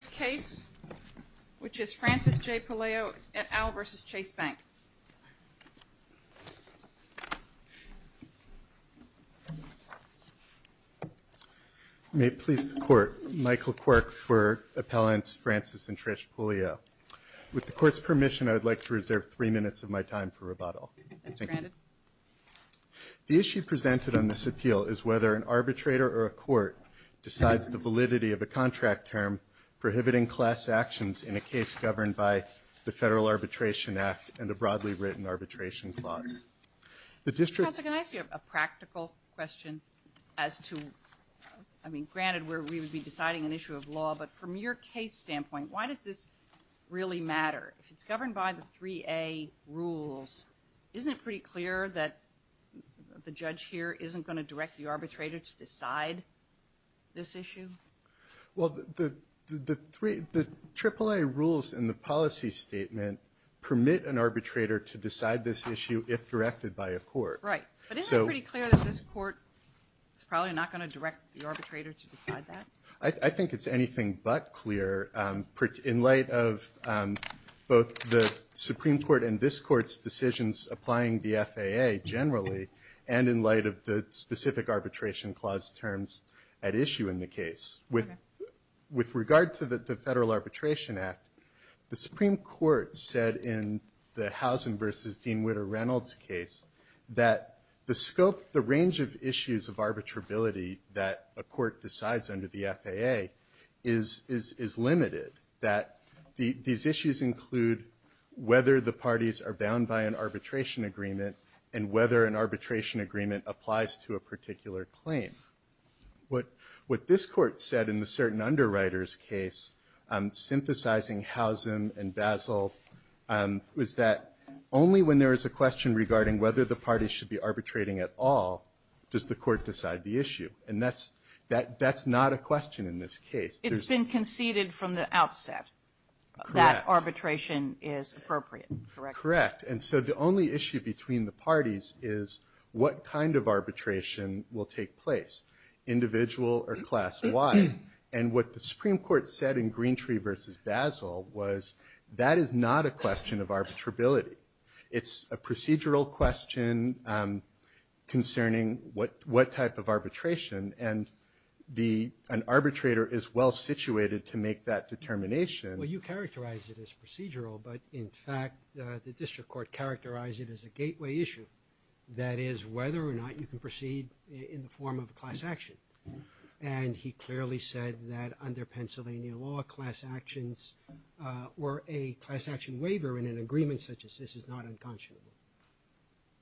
This case, which is Francis J. Puleo et al. versus Chase Bank. May it please the Court, Michael Quirk for Appellants Francis and Trish Puleo. With the Court's permission, I would like to reserve three minutes of my time for rebuttal. That's granted. The issue presented on this appeal is whether an arbitrator or a court decides the validity of a contract term prohibiting class actions in a case governed by the Federal Arbitration Act and a broadly written arbitration clause. Counsel, can I ask you a practical question as to, I mean, granted we would be deciding an issue of law, but from your case standpoint, why does this really matter? If it's governed by the 3A rules, isn't it pretty clear that the judge here isn't going to direct the arbitrator to decide this issue? Well, the 3A rules in the policy statement permit an arbitrator to decide this issue if directed by a court. Right, but isn't it pretty clear that this court is probably not going to direct the arbitrator to decide that? I think it's anything but clear in light of both the Supreme Court and this Court's decisions applying the FAA generally and in light of the specific arbitration clause terms at issue in the case. With regard to the Federal Arbitration Act, the Supreme Court said in the Housen v. Dean Witter Reynolds case that the scope, the range of issues of arbitrability that a court decides under the FAA is limited, that these issues include whether the parties are bound by an arbitration agreement and whether an arbitration agreement applies to a particular claim. What this court said in the certain underwriters case, synthesizing Housen and Basil, was that only when there is a question regarding whether the parties should be arbitrating at all does the court decide the issue. And that's not a question in this case. It's been conceded from the outset that arbitration is appropriate, correct? Correct. And so the only issue between the parties is what kind of arbitration will take place, individual or class-wide. And what the Supreme Court said in Greentree v. Basil was that is not a question of arbitrability. It's a procedural question concerning what type of arbitration and an arbitrator is well-situated to make that determination. Well, you characterize it as procedural, but in fact the district court characterized it as a gateway issue, that is whether or not you can proceed in the form of a class action. And he clearly said that under Pennsylvania law, class actions or a class action waiver in an agreement such as this is not unconscionable.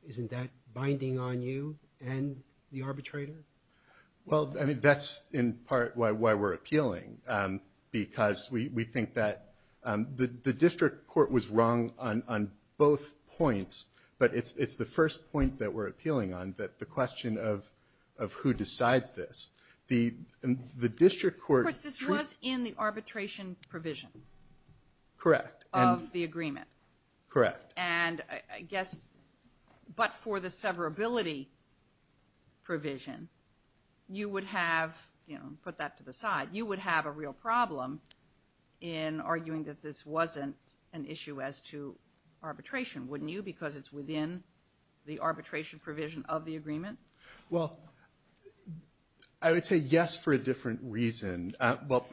Isn't that binding on you and the arbitrator? Well, I mean, that's in part why we're appealing, because we think that the district court was wrong on both points, but it's the first point that we're appealing on, the question of who decides this. Of course, this was in the arbitration provision. Correct. Of the agreement. Correct. And I guess, but for the severability provision, you would have, you know, put that to the side, you would have a real problem in arguing that this wasn't an issue as to arbitration, wouldn't you, because it's within the arbitration provision of the agreement? Well, I would say yes for a different reason. Well,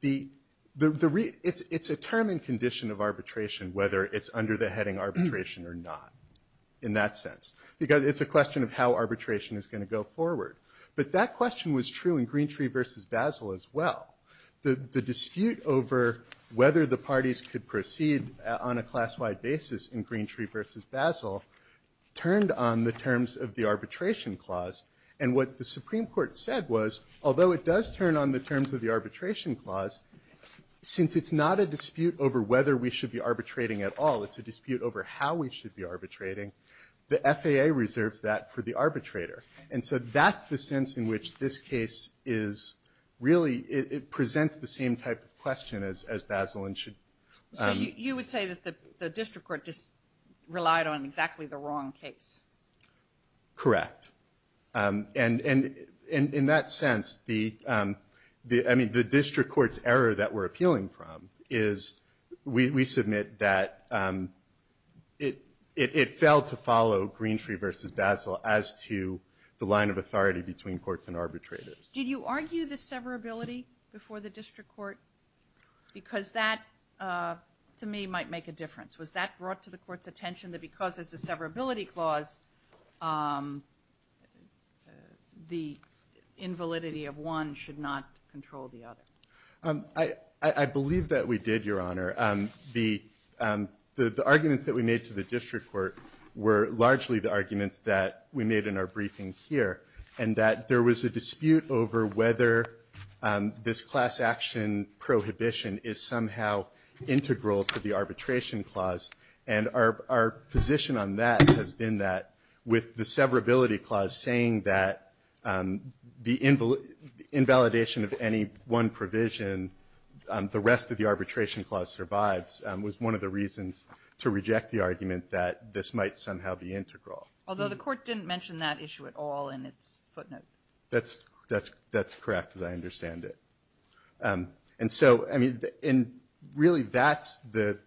it's a term and condition of arbitration, whether it's under the heading arbitration or not in that sense, because it's a question of how arbitration is going to go forward. But that question was true in Greentree versus Basel as well. The dispute over whether the parties could proceed on a class-wide basis in Greentree versus Basel turned on the terms of the arbitration clause. And what the Supreme Court said was, although it does turn on the terms of the arbitration clause, since it's not a dispute over whether we should be arbitrating at all, it's a dispute over how we should be arbitrating, the FAA reserves that for the arbitrator. And so that's the sense in which this case is really, it presents the same type of question as Basel and should. So you would say that the district court just relied on exactly the wrong case? Correct. And in that sense, I mean, the district court's error that we're appealing from is, we submit that it failed to follow Greentree versus Basel as to the line of authority between courts and arbitrators. Did you argue the severability before the district court? Because that, to me, might make a difference. Was that brought to the court's attention that because it's a severability clause, the invalidity of one should not control the other? I believe that we did, Your Honor. The arguments that we made to the district court were largely the arguments that we made in our briefing here, and that there was a dispute over whether this class action prohibition is somehow integral to the arbitration clause. And our position on that has been that with the severability clause saying that the invalidation of any one provision, the rest of the arbitration clause survives, was one of the reasons to reject the argument that this might somehow be integral. Although the court didn't mention that issue at all in its footnote. That's correct, as I understand it. And so, I mean, and really that's the,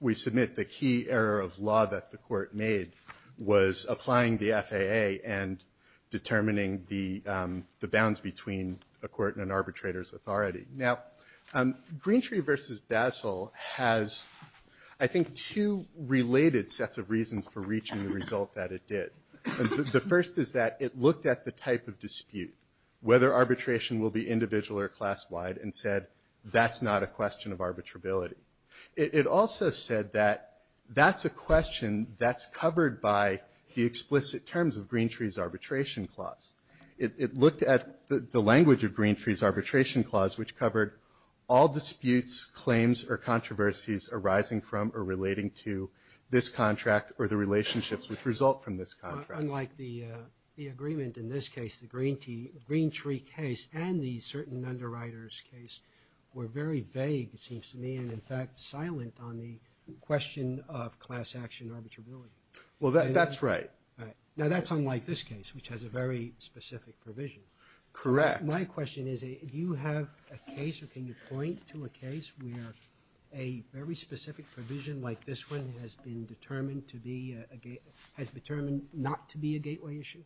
we submit the key error of law that the court made was applying the FAA and determining the bounds between a court and an arbitrator's authority. Now, Greentree versus Basel has, I think, two related sets of reasons for reaching the result that it did. The first is that it looked at the type of dispute, whether arbitration will be individual or class-wide, and said that's not a question of arbitrability. It also said that that's a question that's covered by the explicit terms of Greentree's arbitration clause. It looked at the language of Greentree's arbitration clause, which covered all disputes, claims, or controversies arising from or relating to this contract or the relationships which result from this contract. Unlike the agreement in this case, the Greentree case and the certain underwriter's case were very vague, it seems to me, and in fact, silent on the question of class action arbitrability. Well, that's right. Now, that's unlike this case, which has a very specific provision. Correct. My question is, do you have a case or can you point to a case where a very specific provision like this one has been determined to be, has been determined not to be a gateway issue?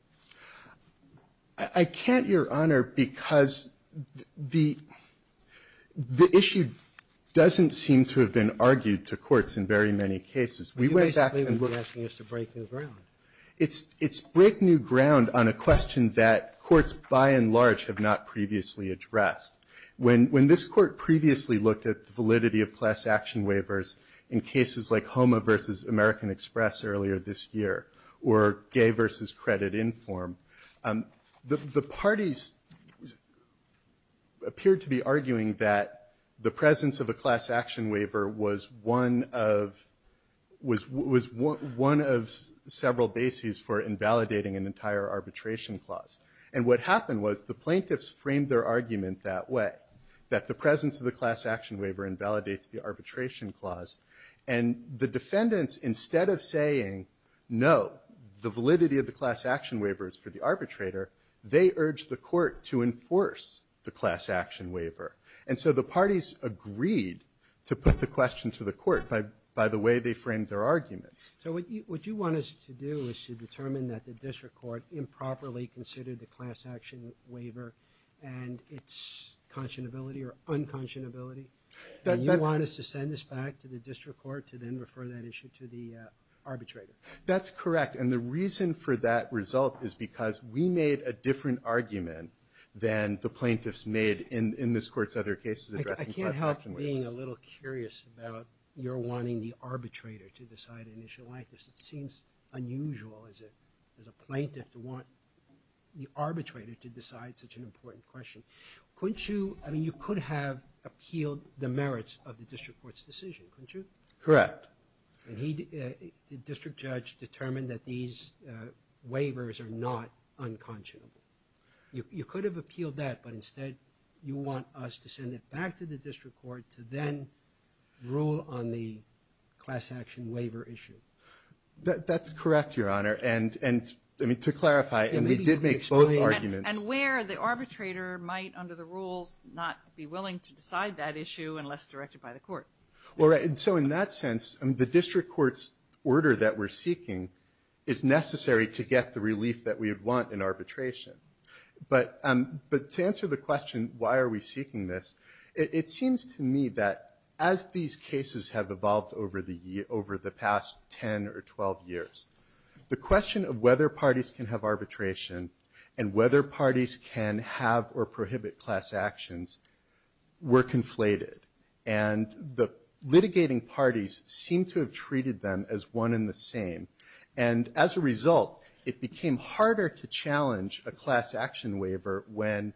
I can't, Your Honor, because the issue doesn't seem to have been argued to courts in very many cases. We went back and looked at the question. You're basically asking us to break new ground. It's break new ground on a question that courts by and large have not previously addressed. When this Court previously looked at the validity of class action waivers in cases like HOMA versus American Express earlier this year, or gay versus credit inform, the parties appeared to be arguing that the presence of a class action waiver was one of, was one of several bases for invalidating an entire arbitration clause. And what happened was the plaintiffs framed their argument that way, that the presence of the class action waiver invalidates the arbitration clause. And the defendants, instead of saying no, the validity of the class action waiver is for the arbitrator, they urged the Court to enforce the class action waiver. And so the parties agreed to put the question to the Court by the way they framed their arguments. So what you want us to do is to determine that the district court improperly considered the class action waiver and its conscionability or unconscionability? And you want us to send this back to the district court to then refer that issue to the arbitrator? That's correct. And the reason for that result is because we made a different argument than the plaintiffs made in this Court's other cases. I can't help being a little curious about your wanting the arbitrator to decide an issue like this. It seems unusual as a plaintiff to want the arbitrator to decide such an important question. Couldn't you? I mean, you could have appealed the merits of the district court's decision, couldn't you? Correct. And the district judge determined that these waivers are not unconscionable. You could have appealed that, but instead you want us to send it back to the district court to then rule on the class action waiver issue. That's correct, Your Honor. And to clarify, and we did make both arguments. And where the arbitrator might, under the rules, not be willing to decide that issue unless directed by the court. All right. And so in that sense, the district court's order that we're seeking is necessary to get the relief that we would want in arbitration. But to answer the question, why are we seeking this, it seems to me that as these cases have evolved over the past 10 or 12 years, the question of whether parties can have arbitration and whether parties can have or prohibit class actions were conflated. And the litigating parties seem to have treated them as one and the same. And as a result, it became harder to challenge a class action waiver when,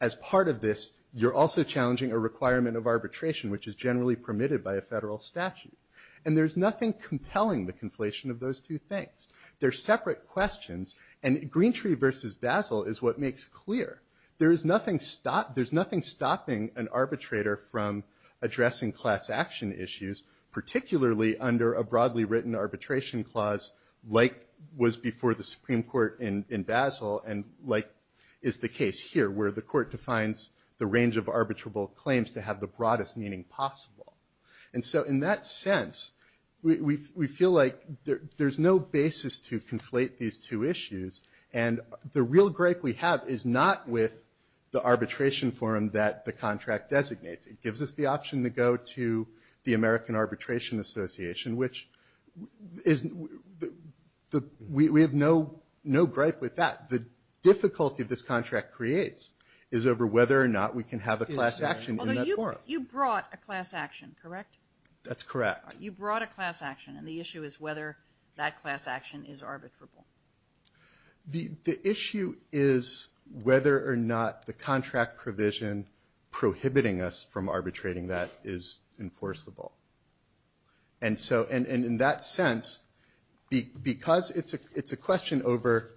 as part of this, you're also challenging a requirement of arbitration, which is generally permitted by a federal statute. And there's nothing compelling the conflation of those two things. They're separate questions. And Greentree versus Basel is what makes clear. There's nothing stopping an arbitrator from addressing class action issues, particularly under a broadly written arbitration clause like was before the Supreme Court in Basel and like is the case here, where the court defines the range of arbitrable claims to have the broadest meaning possible. And so in that sense, we feel like there's no basis to conflate these two issues. And the real gripe we have is not with the arbitration forum that the contract designates. It gives us the option to go to the American Arbitration Association, which is the – we have no gripe with that. The difficulty this contract creates is over whether or not we can have a class action in that forum. So you brought a class action, correct? That's correct. You brought a class action. And the issue is whether that class action is arbitrable. The issue is whether or not the contract provision prohibiting us from arbitrating that is enforceable. And so – and in that sense, because it's a question over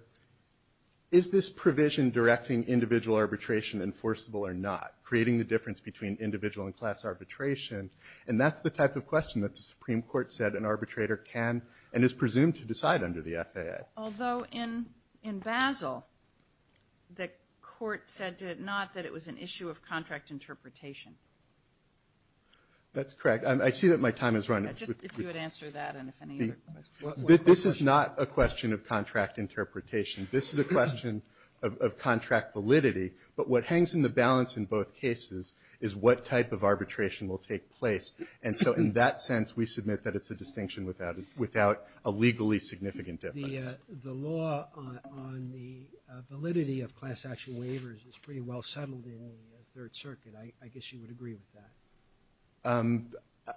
is this provision directing individual arbitration enforceable or not, creating the difference between individual and class arbitration. And that's the type of question that the Supreme Court said an arbitrator can and is presumed to decide under the FAA. Although in Basel, the court said, did it not, that it was an issue of contract interpretation. That's correct. I see that my time has run out. Just if you would answer that and if any other questions. This is not a question of contract interpretation. This is a question of contract validity. But what hangs in the balance in both cases is what type of arbitration will take place. And so in that sense, we submit that it's a distinction without a legally significant difference. The law on the validity of class action waivers is pretty well settled in the Third Circuit. I guess you would agree with that.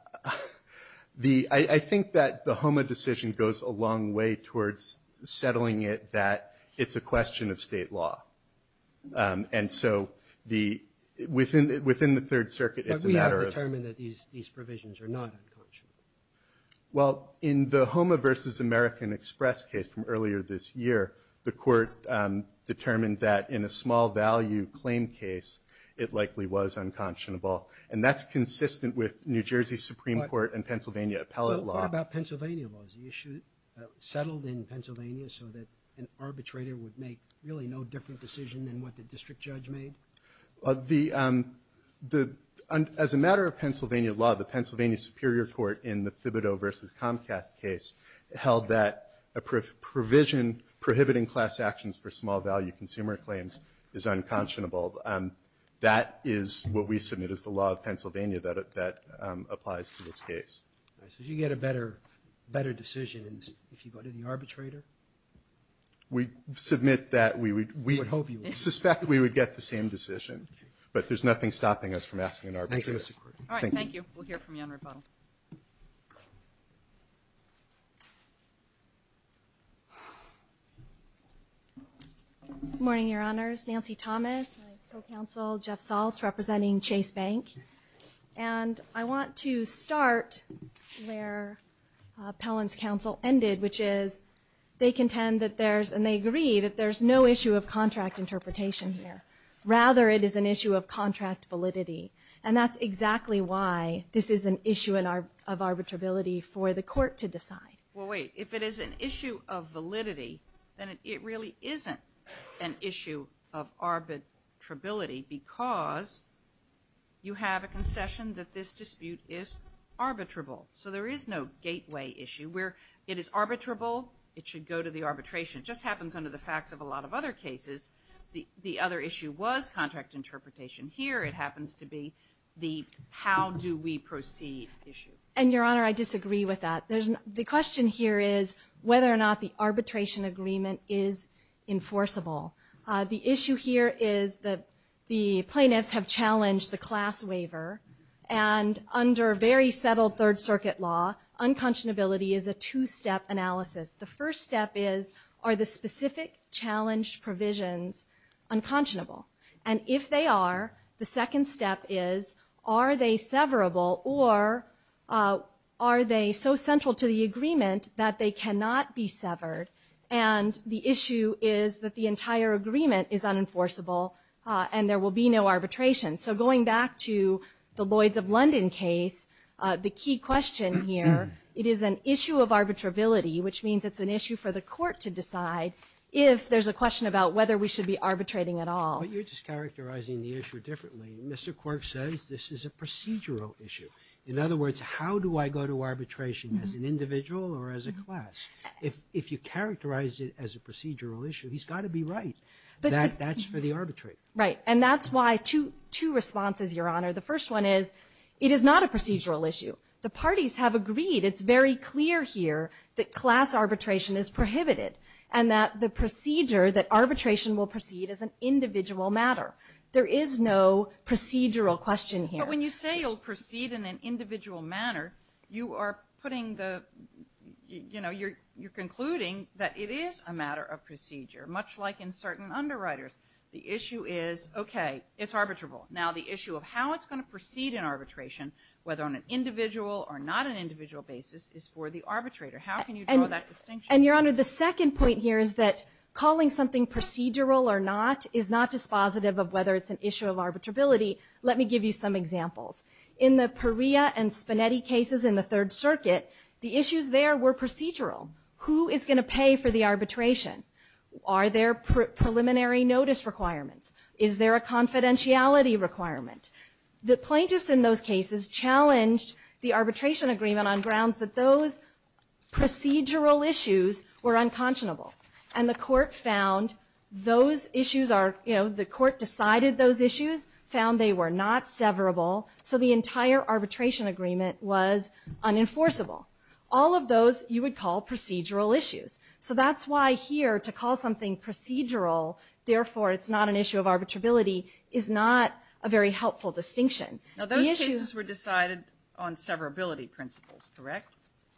I think that the HOMA decision goes a long way towards settling it that it's a matter of. But we have determined that these provisions are not unconscionable. Well, in the HOMA v. American Express case from earlier this year, the court determined that in a small value claim case, it likely was unconscionable. And that's consistent with New Jersey Supreme Court and Pennsylvania appellate law. What about Pennsylvania laws? The issue settled in Pennsylvania so that an arbitrator would make really no different decision than what the district judge made? As a matter of Pennsylvania law, the Pennsylvania Superior Court in the Thibodeau v. Comcast case held that a provision prohibiting class actions for small value consumer claims is unconscionable. That is what we submit as the law of Pennsylvania that applies to this case. So you get a better decision if you go to the arbitrator? We submit that. We would hope you would. We suspect we would get the same decision. But there's nothing stopping us from asking an arbitrator. Thank you. All right. Thank you. We'll hear from you on rebuttal. Good morning, Your Honors. Nancy Thomas, counsel Jeff Saltz, representing Chase Bank. And I want to start where Pellon's counsel ended, which is they contend that there's, and they agree, that there's no issue of contract interpretation here. Rather, it is an issue of contract validity. And that's exactly why this is an issue of arbitrability for the court to decide. Well, wait. If it is an issue of validity, then it really isn't an issue of arbitrability. We have a concession that this dispute is arbitrable. So there is no gateway issue. Where it is arbitrable, it should go to the arbitration. It just happens under the facts of a lot of other cases. The other issue was contract interpretation. Here it happens to be the how do we proceed issue. And, Your Honor, I disagree with that. The question here is whether or not the arbitration agreement is enforceable. The issue here is that the plaintiffs have challenged the class waiver. And under very settled Third Circuit law, unconscionability is a two-step analysis. The first step is, are the specific challenged provisions unconscionable? And if they are, the second step is, are they severable or are they so central to the agreement that they cannot be severed? And the issue is that the entire agreement is unenforceable and there will be no arbitration. So going back to the Lloyds of London case, the key question here, it is an issue of arbitrability, which means it's an issue for the court to decide if there's a question about whether we should be arbitrating at all. But you're just characterizing the issue differently. Mr. Quirk says this is a procedural issue. In other words, how do I go to arbitration, as an individual or as a class? If you characterize it as a procedural issue, he's got to be right that that's for the arbitrate. Right. And that's why two responses, Your Honor. The first one is, it is not a procedural issue. The parties have agreed. It's very clear here that class arbitration is prohibited and that the procedure that arbitration will proceed is an individual matter. There is no procedural question here. But when you say it will proceed in an individual manner, you are putting the you know, you're concluding that it is a matter of procedure, much like in certain underwriters. The issue is, okay, it's arbitrable. Now the issue of how it's going to proceed in arbitration, whether on an individual or not an individual basis, is for the arbitrator. How can you draw that distinction? And, Your Honor, the second point here is that calling something procedural or not is not dispositive of whether it's an issue of arbitrability. Let me give you some examples. In the Perea and Spinetti cases in the Third Circuit, the issues there were procedural. Who is going to pay for the arbitration? Are there preliminary notice requirements? Is there a confidentiality requirement? The plaintiffs in those cases challenged the arbitration agreement on grounds that those procedural issues were unconscionable. And the court found those issues are, you know, the court decided those issues, found they were not severable, so the entire arbitration agreement was unenforceable. All of those you would call procedural issues. So that's why here to call something procedural, therefore it's not an issue of arbitrability, is not a very helpful distinction. Now those cases were decided on severability principles, correct?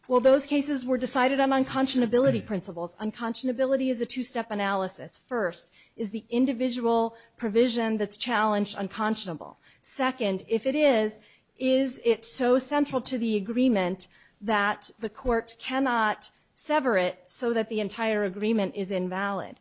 Well, those cases were decided on unconscionability principles. Unconscionability is a two-step analysis. First, is the individual provision that's challenged unconscionable? Second, if it is, is it so central to the agreement that the court cannot sever it so that the entire agreement is invalid?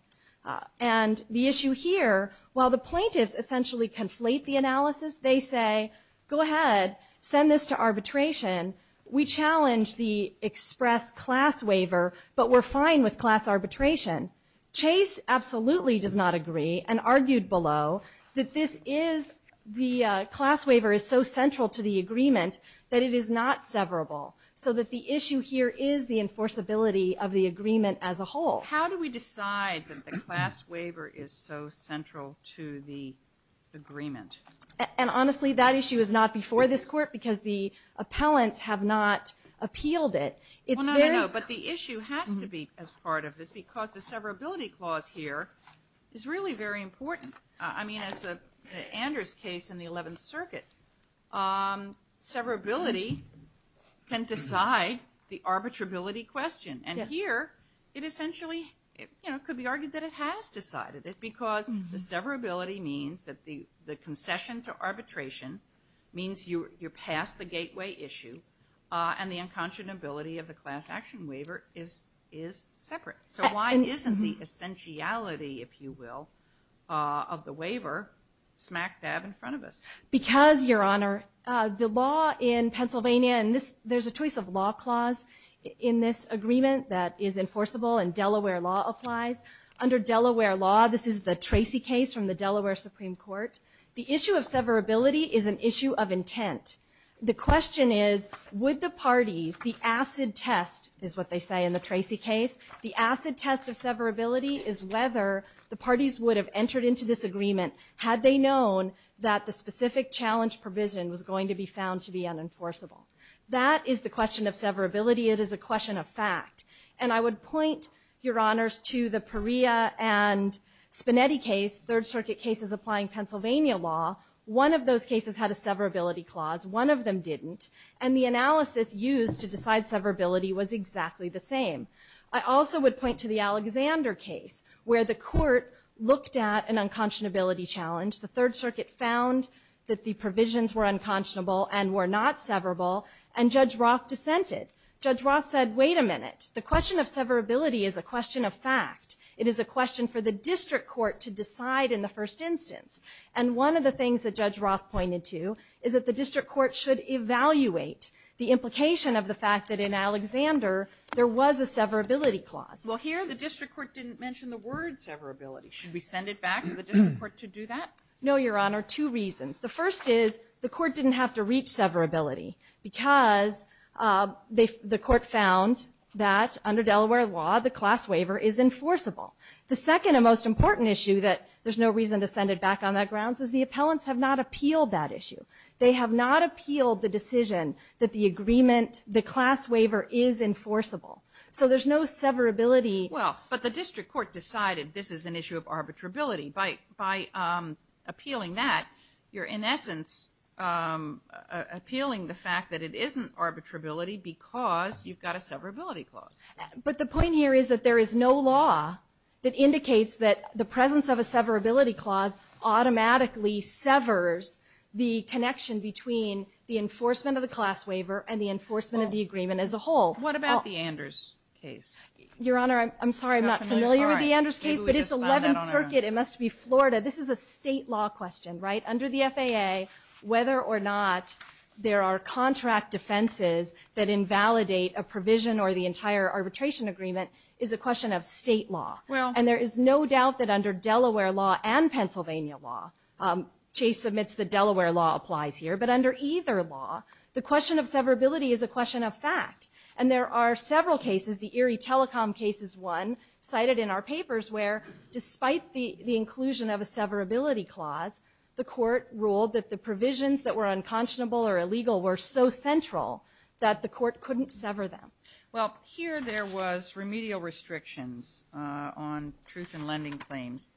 And the issue here, while the plaintiffs essentially conflate the analysis, they say, go ahead, send this to arbitration. We challenge the express class waiver, but we're fine with class arbitration. Chase absolutely does not agree and argued below that this is, the class waiver is so central to the agreement that it is not severable, so that the issue here is the enforceability of the agreement as a whole. How do we decide that the class waiver is so central to the agreement? And honestly, that issue is not before this court because the appellants have not appealed it. Well, no, no, no, but the issue has to be as part of it because the severability clause here is really very important. I mean, as the Anders case in the 11th Circuit, severability can decide the arbitrability question. And here, it essentially could be argued that it has decided it because the severability means that the concession to arbitration means you're past the gateway issue and the unconscionability of the class action waiver is separate. So why isn't the essentiality, if you will, of the waiver smack dab in front of us? Because, Your Honor, the law in Pennsylvania, and there's a choice of law clause in this agreement that is enforceable and Delaware law applies. Under Delaware law, this is the Tracy case from the Delaware Supreme Court. The issue of severability is an issue of intent. The question is, would the parties, the acid test, is what they say in the Tracy case, the acid test of severability is whether the parties would have entered into this agreement had they known that the specific challenge provision was going to be found to be unenforceable. That is the question of severability. It is a question of fact. And I would point, Your Honors, to the Perea and Spinetti case, third circuit cases applying Pennsylvania law. One of those cases had a severability clause. One of them didn't. And the analysis used to decide severability was exactly the same. I also would point to the Alexander case, where the court looked at an unconscionability challenge. The third circuit found that the provisions were unconscionable and were not severable. And Judge Roth dissented. Judge Roth said, wait a minute. The question of severability is a question of fact. It is a question for the district court to decide in the first instance. And one of the things that Judge Roth pointed to is that the district court should evaluate the implication of the fact that in Alexander there was a severability clause. Well, here the district court didn't mention the word severability. Should we send it back to the district court to do that? No, Your Honor, two reasons. The first is the court didn't have to reach severability because the court found that under Delaware law, the class waiver is enforceable. The second and most important issue, that there's no reason to send it back on that grounds, is the appellants have not appealed that issue. They have not appealed the decision that the agreement, the class waiver is enforceable. So there's no severability. Well, but the district court decided this is an issue of arbitrability. By appealing that, you're in essence appealing the fact that it isn't arbitrability because you've got a severability clause. But the point here is that there is no law that indicates that the presence of a severability clause automatically severs the connection between the enforcement of the class waiver and the enforcement of the agreement as a whole. What about the Anders case? Your Honor, I'm sorry, I'm not familiar with the Anders case, but it's 11th Circuit, it must be Florida. This is a state law question, right? Under the FAA, whether or not there are contract defenses that invalidate a provision or the entire arbitration agreement is a question of state law. And there is no doubt that under Delaware law and Pennsylvania law, Chase admits that Delaware law applies here, but under either law, the question of severability is a question of fact. And there are several cases, the Erie Telecom case is one, cited in our papers where despite the inclusion of a severability clause, the court ruled that the provisions that were unconscionable or illegal were so central that the court couldn't sever them. Well, here there was remedial restrictions on truth in lending claims,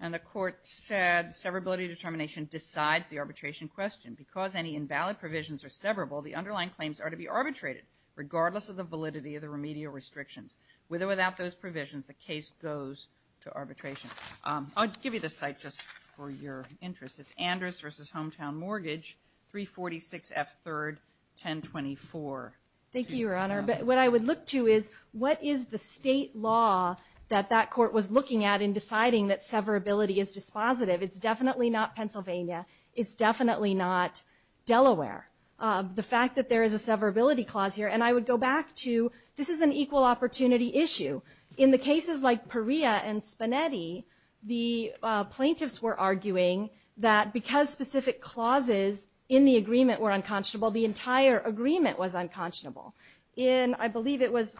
and the court said severability determination decides the arbitration question. Because any invalid provisions are severable, the underlying claims are to be arbitrated regardless of the validity of the remedial restrictions. With or without those provisions, the case goes to arbitration. I'll give you the site just for your interest. It's Andrus v. Hometown Mortgage, 346 F. 3rd, 1024. Thank you, Your Honor. What I would look to is what is the state law that that court was looking at in deciding that severability is dispositive? It's definitely not Pennsylvania. It's definitely not Delaware. The fact that there is a severability clause here, and I would go back to this is an equal opportunity issue. In the cases like Perea and Spanetti, the plaintiffs were arguing that because specific clauses in the agreement were unconscionable, the entire agreement was unconscionable. In, I believe it was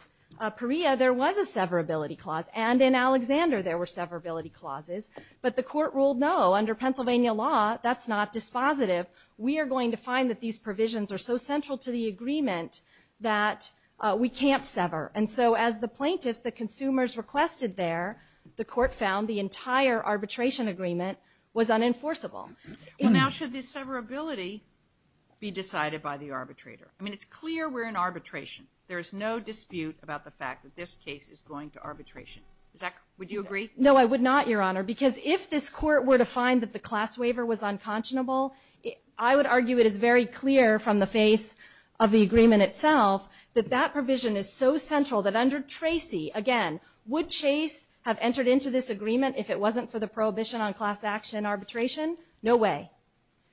Perea, there was a severability clause, and in Alexander there were severability clauses, but the court ruled no, under Pennsylvania law, that's not dispositive. We are going to find that these provisions are so central to the agreement that we can't sever. And so as the plaintiffs, the consumers requested there, the court found the entire arbitration agreement was unenforceable. Well, now should this severability be decided by the arbitrator? I mean, it's clear we're in arbitration. There is no dispute about the fact that this case is going to arbitration. Would you agree? No, I would not, Your Honor, because if this court were to find that the class waiver was unconscionable, I would argue it is very clear from the face of the agreement itself that that provision is so central that under Tracy, again, would Chase have entered into this agreement if it wasn't for the prohibition on class action arbitration? No way.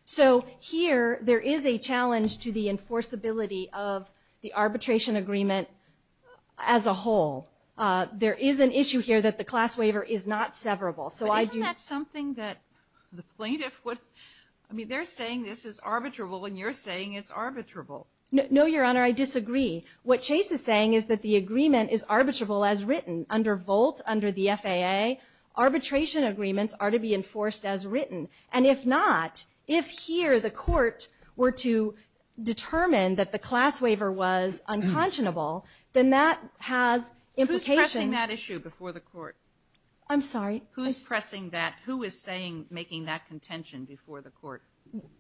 So here there is a challenge to the enforceability of the arbitration agreement as a whole. There is an issue here that the class waiver is not severable. But isn't that something that the plaintiff would, I mean they're saying this is arbitrable and you're saying it's arbitrable. No, Your Honor, I disagree. What Chase is saying is that the agreement is arbitrable as written. Under Volt, under the FAA, arbitration agreements are to be enforced as written. And if not, if here the court were to determine that the class waiver was unconscionable, then that has implication. Who's pressing that issue before the court? I'm sorry? Who's pressing that? Who is making that contention before the court?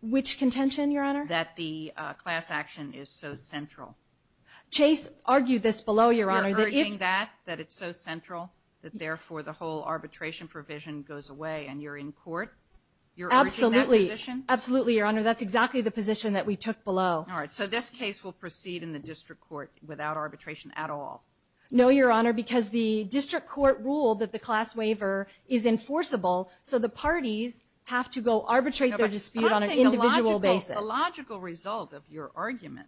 Which contention, Your Honor? That the class action is so central. Chase argued this below, Your Honor. You're urging that, that it's so central, that therefore the whole arbitration provision goes away and you're in court? You're urging that position? Absolutely, Your Honor. That's exactly the position that we took below. All right, so this case will proceed in the district court without arbitration at all? No, Your Honor, because the district court ruled that the class waiver is enforceable, so the parties have to go arbitrate their dispute on an individual basis. I'm not saying the logical result of your argument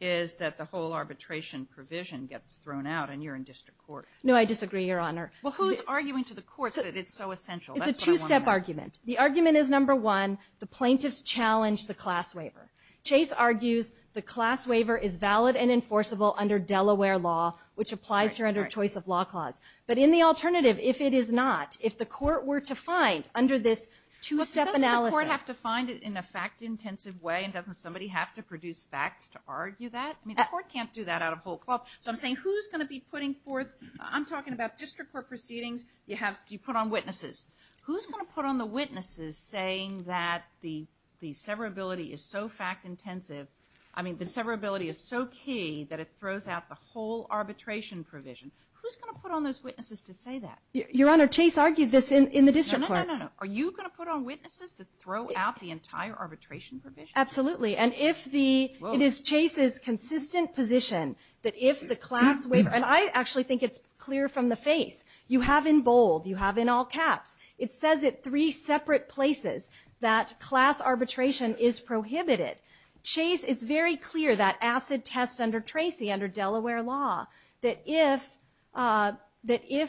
is that the whole arbitration provision gets thrown out and you're in district court. No, I disagree, Your Honor. Well, who's arguing to the court that it's so essential? It's a two-step argument. The argument is, number one, the plaintiffs challenge the class waiver. Chase argues the class waiver is valid and enforceable under Delaware law, which applies here under a choice of law clause. But in the alternative, if it is not, if the court were to find under this two-step analysis— But doesn't the court have to find it in a fact-intensive way and doesn't somebody have to produce facts to argue that? I mean, the court can't do that out of whole cloth. So I'm saying who's going to be putting forth— I'm talking about district court proceedings. You put on witnesses. Who's going to put on the witnesses saying that the severability is so fact-intensive, I mean, the severability is so key that it throws out the whole arbitration provision? Who's going to put on those witnesses to say that? Your Honor, Chase argued this in the district court. No, no, no, no, no. Are you going to put on witnesses to throw out the entire arbitration provision? Absolutely. And if the—it is Chase's consistent position that if the class waiver— and I actually think it's clear from the face. You have in bold. You have in all caps. It says it three separate places that class arbitration is prohibited. Chase—it's very clear that ACID test under Tracy, under Delaware law, that if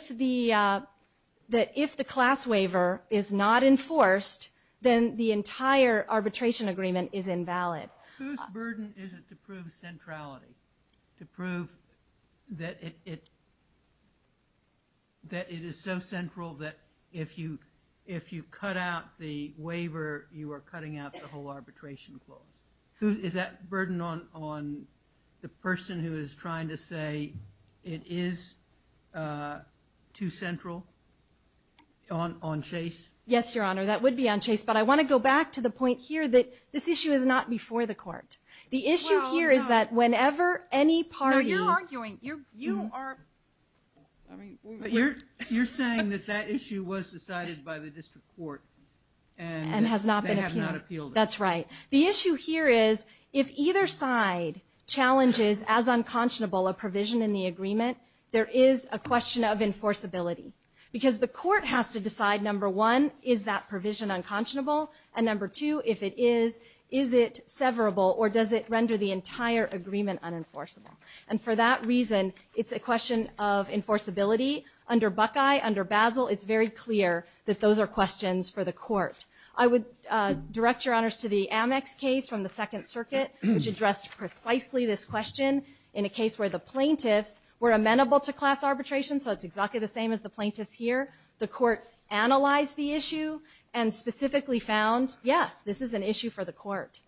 the class waiver is not enforced, then the entire arbitration agreement is invalid. Whose burden is it to prove centrality? To prove that it is so central that if you cut out the waiver, you are cutting out the whole arbitration clause. Is that burden on the person who is trying to say it is too central on Chase? Yes, Your Honor, that would be on Chase. But I want to go back to the point here that this issue is not before the court. The issue here is that whenever any party— No, you're arguing. You are— You're saying that that issue was decided by the district court and— They have not appealed it. That's right. The issue here is if either side challenges as unconscionable a provision in the agreement, there is a question of enforceability. Because the court has to decide, number one, is that provision unconscionable? And number two, if it is, is it severable or does it render the entire agreement unenforceable? And for that reason, it's a question of enforceability. Under Buckeye, under Basil, it's very clear that those are questions for the court. I would direct Your Honors to the Amex case from the Second Circuit, which addressed precisely this question in a case where the plaintiffs were amenable to class arbitration, so it's exactly the same as the plaintiffs here. The court analyzed the issue and specifically found, yes, this is an issue for the court.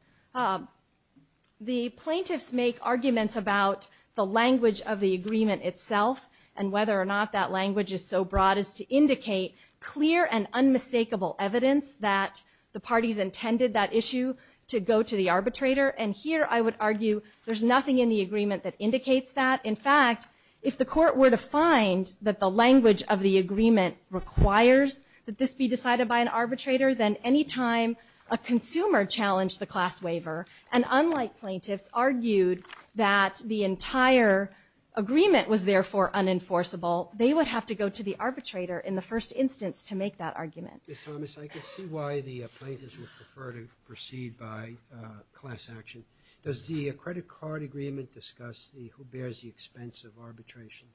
The plaintiffs make arguments about the language of the agreement itself and whether or not that language is so broad as to indicate clear and unmistakable evidence that the parties intended that issue to go to the arbitrator. And here I would argue there's nothing in the agreement that indicates that. In fact, if the court were to find that the language of the agreement requires that this be decided by an arbitrator, then any time a consumer challenged the class waiver, and unlike plaintiffs argued that the entire agreement was therefore unenforceable, they would have to go to the arbitrator in the first instance to make that argument. Ms. Thomas, I can see why the plaintiffs would prefer to proceed by class action. Does the credit card agreement discuss who bears the expense of arbitration?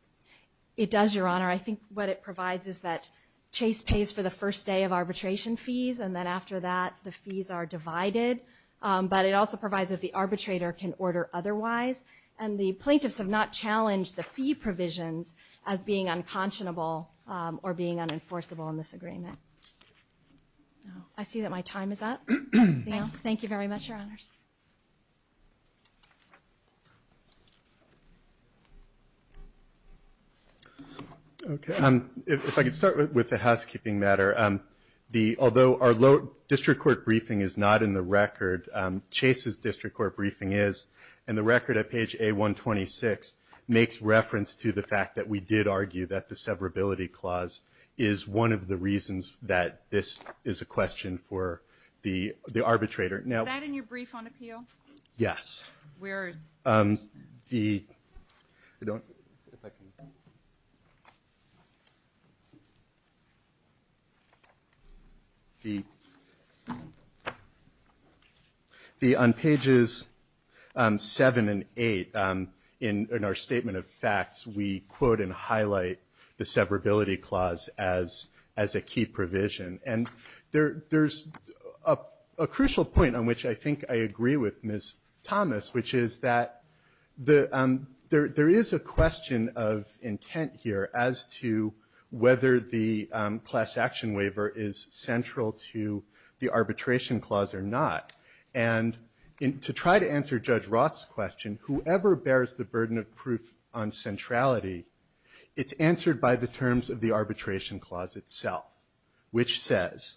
It does, Your Honor. I think what it provides is that Chase pays for the first day of arbitration fees and then after that the fees are divided. But it also provides that the arbitrator can order otherwise, and the plaintiffs have not challenged the fee provisions as being unconscionable or being unenforceable in this agreement. I see that my time is up. Thank you very much, Your Honors. Okay. If I could start with the housekeeping matter. Although our district court briefing is not in the record, Chase's district court briefing is, and the record at page A126 makes reference to the fact that we did argue that the severability clause is one of the reasons that this is a question for the arbitrator. Is that in your brief on appeal? Yes. On pages 7 and 8 in our statement of facts, we quote and highlight the severability clause as a key provision. And there's a crucial point on which I think I agree with Ms. Thomas, which is that there is a question of intent here as to whether the class action waiver is central to the arbitration clause or not. And to try to answer Judge Roth's question, whoever bears the burden of proof on centrality, it's answered by the terms of the arbitration clause itself, which says,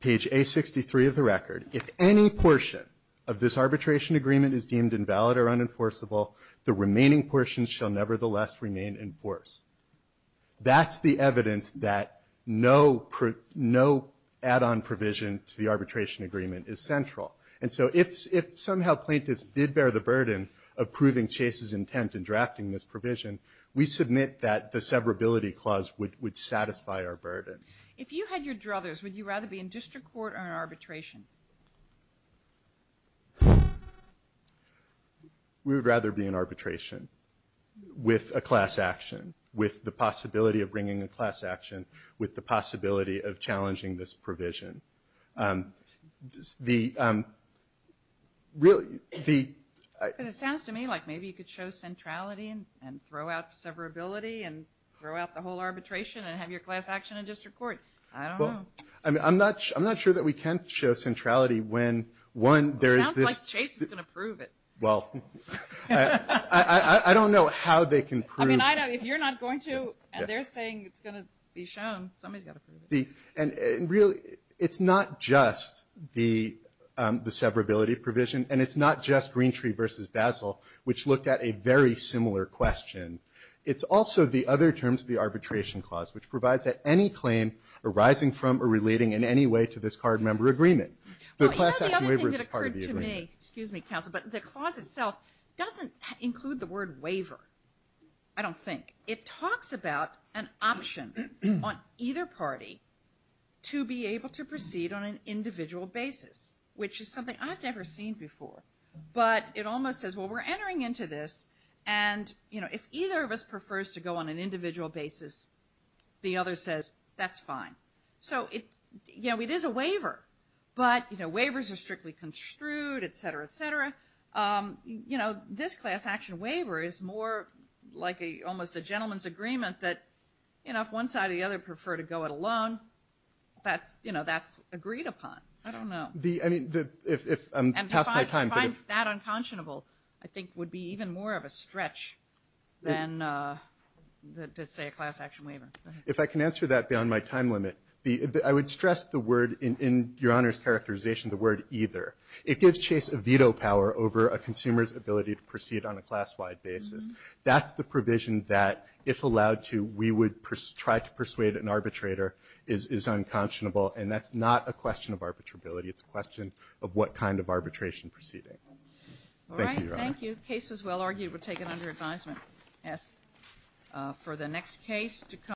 page A63 of the record, if any portion of this arbitration agreement is deemed invalid or unenforceable, the remaining portions shall nevertheless remain in force. That's the evidence that no add-on provision to the arbitration agreement is central. And so if somehow plaintiffs did bear the burden of proving Chase's intent in drafting this provision, we submit that the severability clause would satisfy our burden. If you had your druthers, would you rather be in district court or in arbitration? We would rather be in arbitration with a class action, with the possibility of bringing a class action, with the possibility of challenging this provision. Because it sounds to me like maybe you could show centrality and throw out severability and throw out the whole arbitration and have your class action in district court. I don't know. I'm not sure that we can show centrality when, one, there is this – It sounds like Chase is going to prove it. Well, I don't know how they can prove – I mean, if you're not going to and they're saying it's going to be shown, somebody's got to prove it. Really, it's not just the severability provision, and it's not just Greentree versus Basel, which looked at a very similar question. It's also the other terms of the arbitration clause, which provides that any claim arising from or relating in any way to this card member agreement, the class action waiver is part of the agreement. You know, the other thing that occurred to me, excuse me, counsel, but the clause itself doesn't include the word waiver, I don't think. It talks about an option on either party to be able to proceed on an individual basis, which is something I've never seen before. But it almost says, well, we're entering into this, and if either of us prefers to go on an individual basis, the other says, that's fine. So it is a waiver, but waivers are strictly construed, et cetera, et cetera. You know, this class action waiver is more like almost a gentleman's agreement that, you know, if one side or the other prefer to go it alone, that's, you know, that's agreed upon. I don't know. And to find that unconscionable, I think, would be even more of a stretch than to say a class action waiver. If I can answer that beyond my time limit, I would stress the word in Your Honor's characterization, the word either. It gives Chase a veto power over a consumer's ability to proceed on a class-wide basis. That's the provision that, if allowed to, we would try to persuade an arbitrator is unconscionable, and that's not a question of arbitrability. It's a question of what kind of arbitration proceeding. Thank you, Your Honor. Thank you. The case was well argued. We'll take it under advisement. I ask for the next case to come.